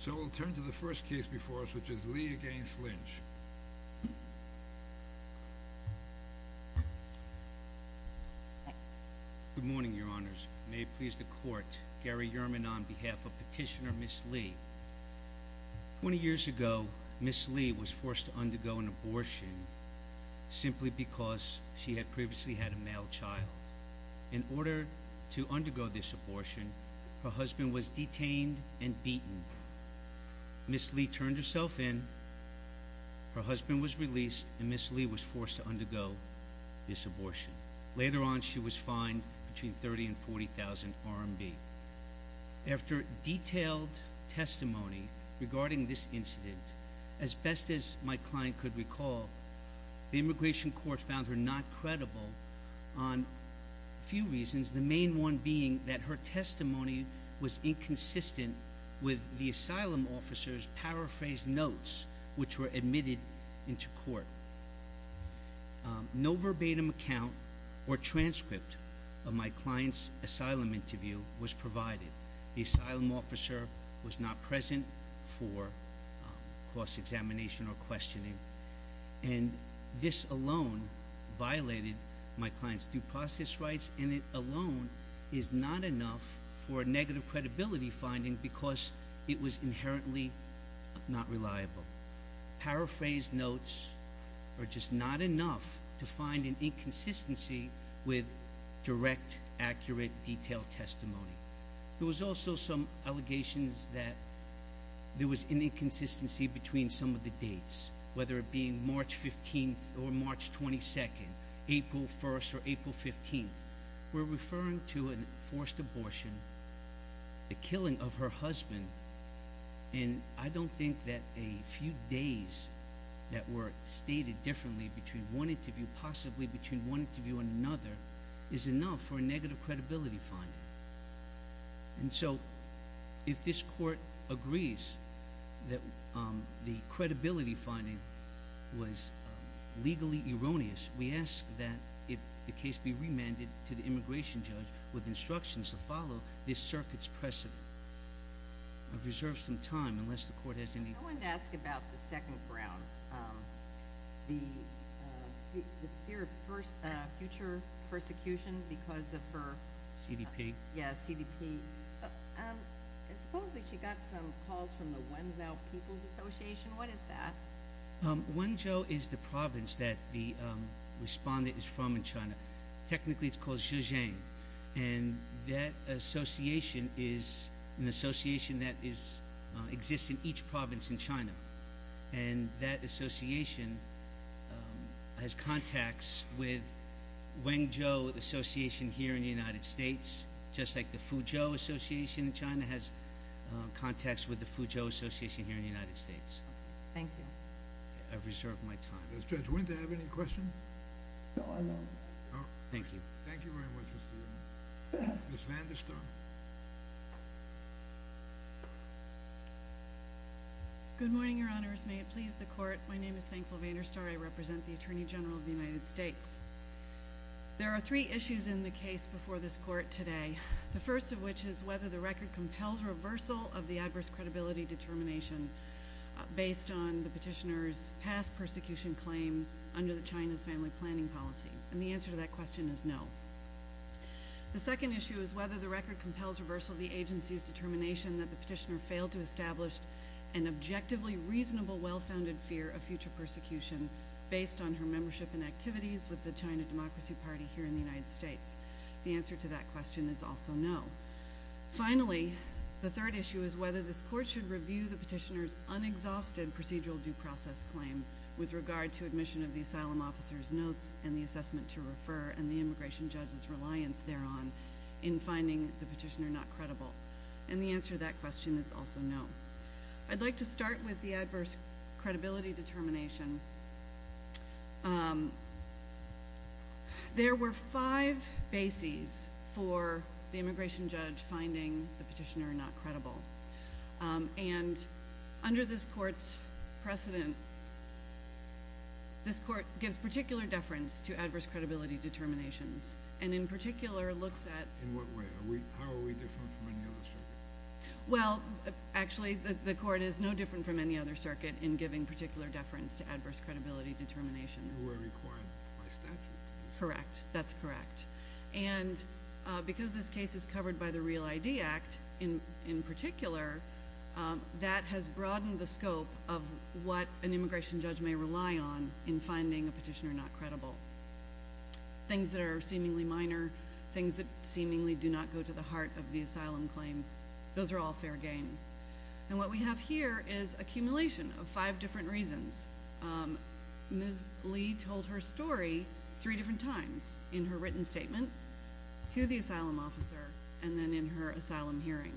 So we'll turn to the first case before us, which is Lee v. Lynch. Thanks. Good morning, Your Honors. May it please the Court, Gary Yerman on behalf of Petitioner Ms. Lee. Twenty years ago, Ms. Lee was forced to undergo an abortion simply because she had previously had a male child. In order to undergo this abortion, her husband was detained and beaten. Ms. Lee turned herself in, her husband was released, and Ms. Lee was forced to undergo this abortion. Later on, she was fined between $30,000 and $40,000 RMB. After detailed testimony regarding this incident, as best as my client could recall, the immigration court found her not credible on a few reasons, the main one being that her testimony was inconsistent with the asylum officer's paraphrased notes, which were admitted into court. No verbatim account or transcript of my client's asylum interview was provided. The asylum officer was not present for cross-examination or questioning, and this alone violated my client's due process rights, and it alone is not enough for a negative credibility finding because it was inherently not reliable. Paraphrased notes are just not enough to find an inconsistency with direct, accurate, detailed testimony. There was also some allegations that there was an inconsistency between some of the dates, whether it being March 15th or March 22nd, April 1st or April 15th. We're referring to a forced abortion, the killing of her husband, and I don't think that a few days that were stated differently between one interview, possibly between one interview and another, is enough for a negative credibility finding. And so if this court agrees that the credibility finding was legally erroneous, we ask that the case be remanded to the immigration judge with instructions to follow this circuit's precedent. I've reserved some time, unless the court has any... I wanted to ask about the second grounds, the fear of future persecution because of her... CDP. Yeah, CDP. Supposedly she got some calls from the Wenzhou People's Association. What is that? Wenzhou is the province that the respondent is from in China. Technically it's called Zhejiang, and that association is an association that exists in each province in China, and that association has contacts with Wenzhou Association here in the United States, just like the Fuzhou Association in China has contacts with the Fuzhou Association here in the United States. Thank you. I've reserved my time. Does Judge Winter have any questions? No, I'm done. Oh, thank you. Thank you very much, Mr. Ewing. Ms. Vanderstar. Good morning, Your Honors. May it please the Court. My name is Thankful Vanderstar. I represent the Attorney General of the United States. There are three issues in the case before this Court today, the first of which is whether the record compels reversal of the adverse credibility determination. based on the petitioner's past persecution claim under China's family planning policy, and the answer to that question is no. The second issue is whether the record compels reversal of the agency's determination that the petitioner failed to establish an objectively reasonable well-founded fear of future persecution based on her membership and activities with the China Democracy Party here in the United States. The answer to that question is also no. Finally, the third issue is whether this Court should review the petitioner's unexhausted procedural due process claim with regard to admission of the asylum officer's notes and the assessment to refer and the immigration judge's reliance thereon in finding the petitioner not credible, and the answer to that question is also no. I'd like to start with the adverse credibility determination. There were five bases for the immigration judge finding the petitioner not credible, and under this Court's precedent, this Court gives particular deference to adverse credibility determinations and in particular looks at... In what way? How are we different from any other circuit? Well, actually, the Court is no different from any other circuit in giving particular deference to adverse credibility determinations. They were required by statute. Correct. That's correct. And because this case is covered by the Real ID Act in particular, that has broadened the scope of what an immigration judge may rely on in finding a petitioner not credible. Things that are seemingly minor, things that seemingly do not go to the heart of the asylum claim, those are all fair game. And what we have here is accumulation of five different reasons. Ms. Lee told her story three different times in her written statement to the asylum officer and then in her asylum hearing,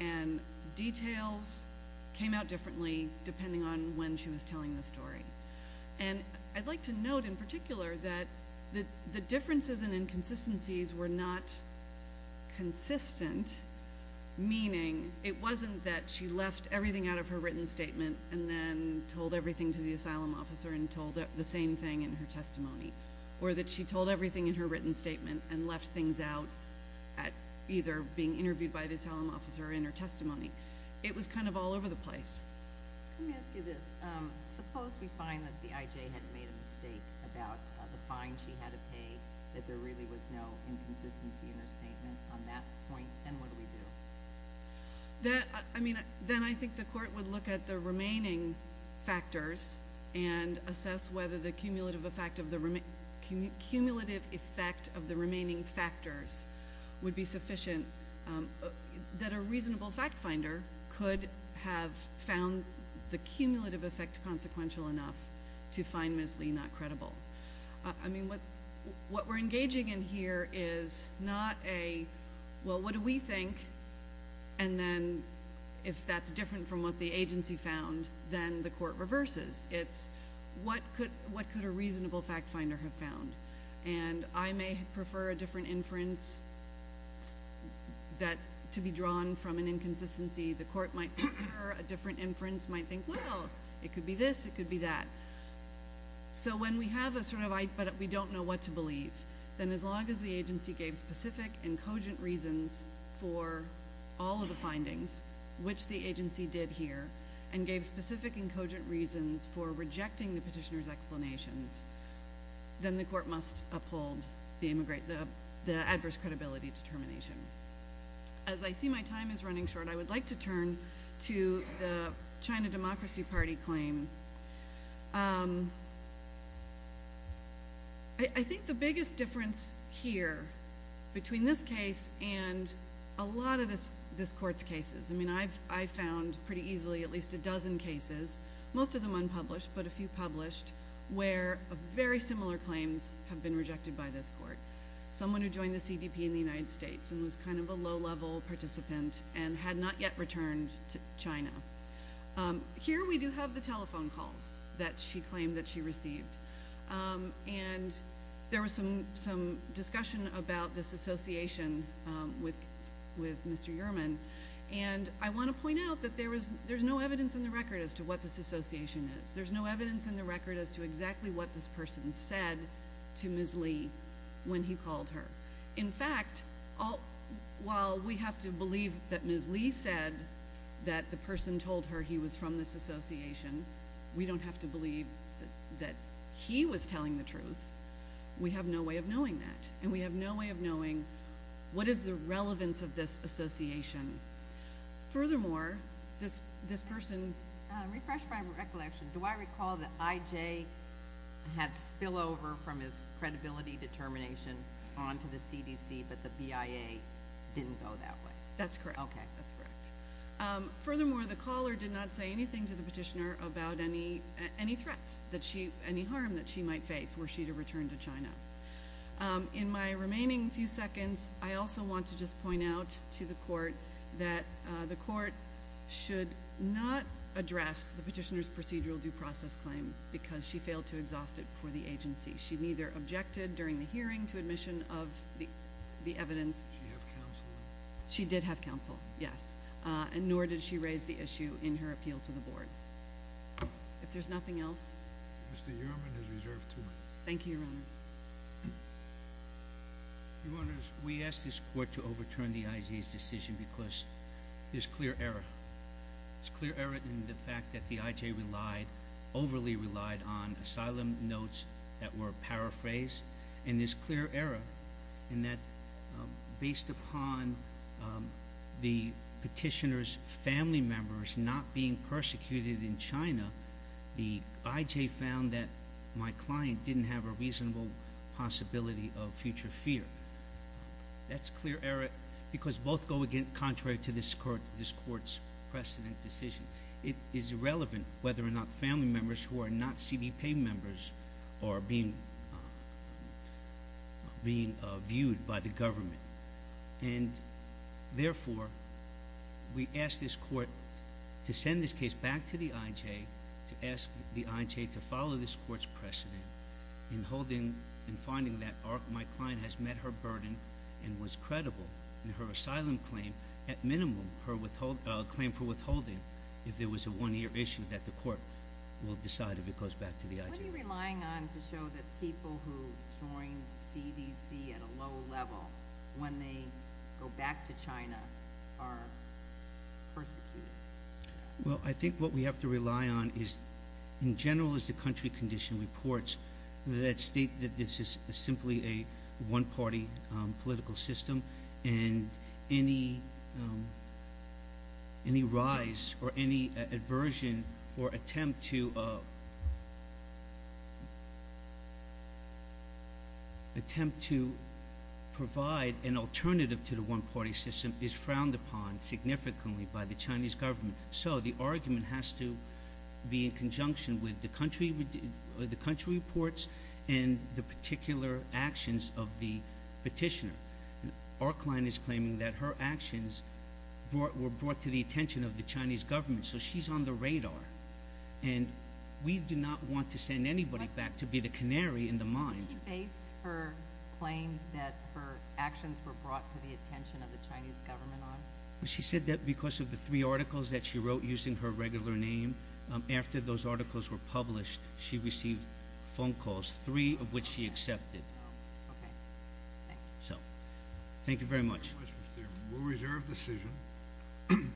and details came out differently depending on when she was telling the story. And I'd like to note in particular that the differences and inconsistencies were not consistent, meaning it wasn't that she left everything out of her written statement and then told everything to the asylum officer and told the same thing in her testimony, or that she told everything in her written statement and left things out at either being interviewed by the asylum officer or in her testimony. It was kind of all over the place. Let me ask you this. Suppose we find that the IJ had made a mistake about the fine she had to pay, that there really was no inconsistency in her statement on that point, then what do we do? Then I think the court would look at the remaining factors and assess whether the cumulative effect of the remaining factors would be sufficient, that a reasonable fact finder could have found the cumulative effect consequential enough to find Ms. Lee not credible. I mean, what we're engaging in here is not a, well, what do we think, and then if that's different from what the agency found, then the court reverses. It's what could a reasonable fact finder have found? And I may prefer a different inference to be drawn from an inconsistency. The court might prefer a different inference, might think, well, it could be this, it could be that. So when we have a sort of, but we don't know what to believe, then as long as the agency gave specific and cogent reasons for all of the findings, which the agency did here, and gave specific and cogent reasons for rejecting the petitioner's explanations, then the court must uphold the adverse credibility determination. As I see my time is running short, I would like to turn to the China Democracy Party claim. I think the biggest difference here between this case and a lot of this court's cases, I mean, I found pretty easily at least a dozen cases, most of them unpublished but a few published, where very similar claims have been rejected by this court. Someone who joined the CDP in the United States and was kind of a low-level participant and had not yet returned to China. Here we do have the telephone calls that she claimed that she received. And there was some discussion about this association with Mr. Yerman, and I want to point out that there's no evidence in the record as to what this association is. There's no evidence in the record as to exactly what this person said to Ms. Lee when he called her. In fact, while we have to believe that Ms. Lee said that the person told her he was from this association, we don't have to believe that he was telling the truth. We have no way of knowing that, and we have no way of knowing what is the relevance of this association. Furthermore, this person— But the BIA didn't go that way. That's correct. Okay, that's correct. Furthermore, the caller did not say anything to the petitioner about any threats, any harm that she might face were she to return to China. In my remaining few seconds, I also want to just point out to the court that the court should not address the petitioner's procedural due process claim because she failed to exhaust it for the agency. She neither objected during the hearing to admission of the evidence— Did she have counsel? She did have counsel, yes, and nor did she raise the issue in her appeal to the board. If there's nothing else— Mr. Uhrman has reserved two minutes. Thank you, Your Honors. Your Honors, we asked this court to overturn the IJ's decision because there's clear error. There's clear error in the fact that the IJ relied—overly relied on asylum notes that were paraphrased. And there's clear error in that based upon the petitioner's family members not being persecuted in China, the IJ found that my client didn't have a reasonable possibility of future fear. That's clear error because both go contrary to this court's precedent decision. It is irrelevant whether or not family members who are not CBP members are being viewed by the government. And therefore, we ask this court to send this case back to the IJ, to ask the IJ to follow this court's precedent in finding that my client has met her burden and was credible in her asylum claim, at minimum her claim for withholding if there was a one-year issue, that the court will decide if it goes back to the IJ. What are you relying on to show that people who joined CDC at a low level, when they go back to China, are persecuted? Well, I think what we have to rely on is, in general, as the country condition reports, that state that this is simply a one-party political system and any rise or any aversion or attempt to provide an alternative to the one-party system is frowned upon significantly by the Chinese government. So the argument has to be in conjunction with the country reports and the particular actions of the petitioner. Our client is claiming that her actions were brought to the attention of the Chinese government, so she's on the radar. And we do not want to send anybody back to be the canary in the mine. Did she base her claim that her actions were brought to the attention of the Chinese government on? She said that because of the three articles that she wrote using her regular name. After those articles were published, she received phone calls, three of which she accepted. Okay. Thanks. Thank you very much. We'll reserve the decision.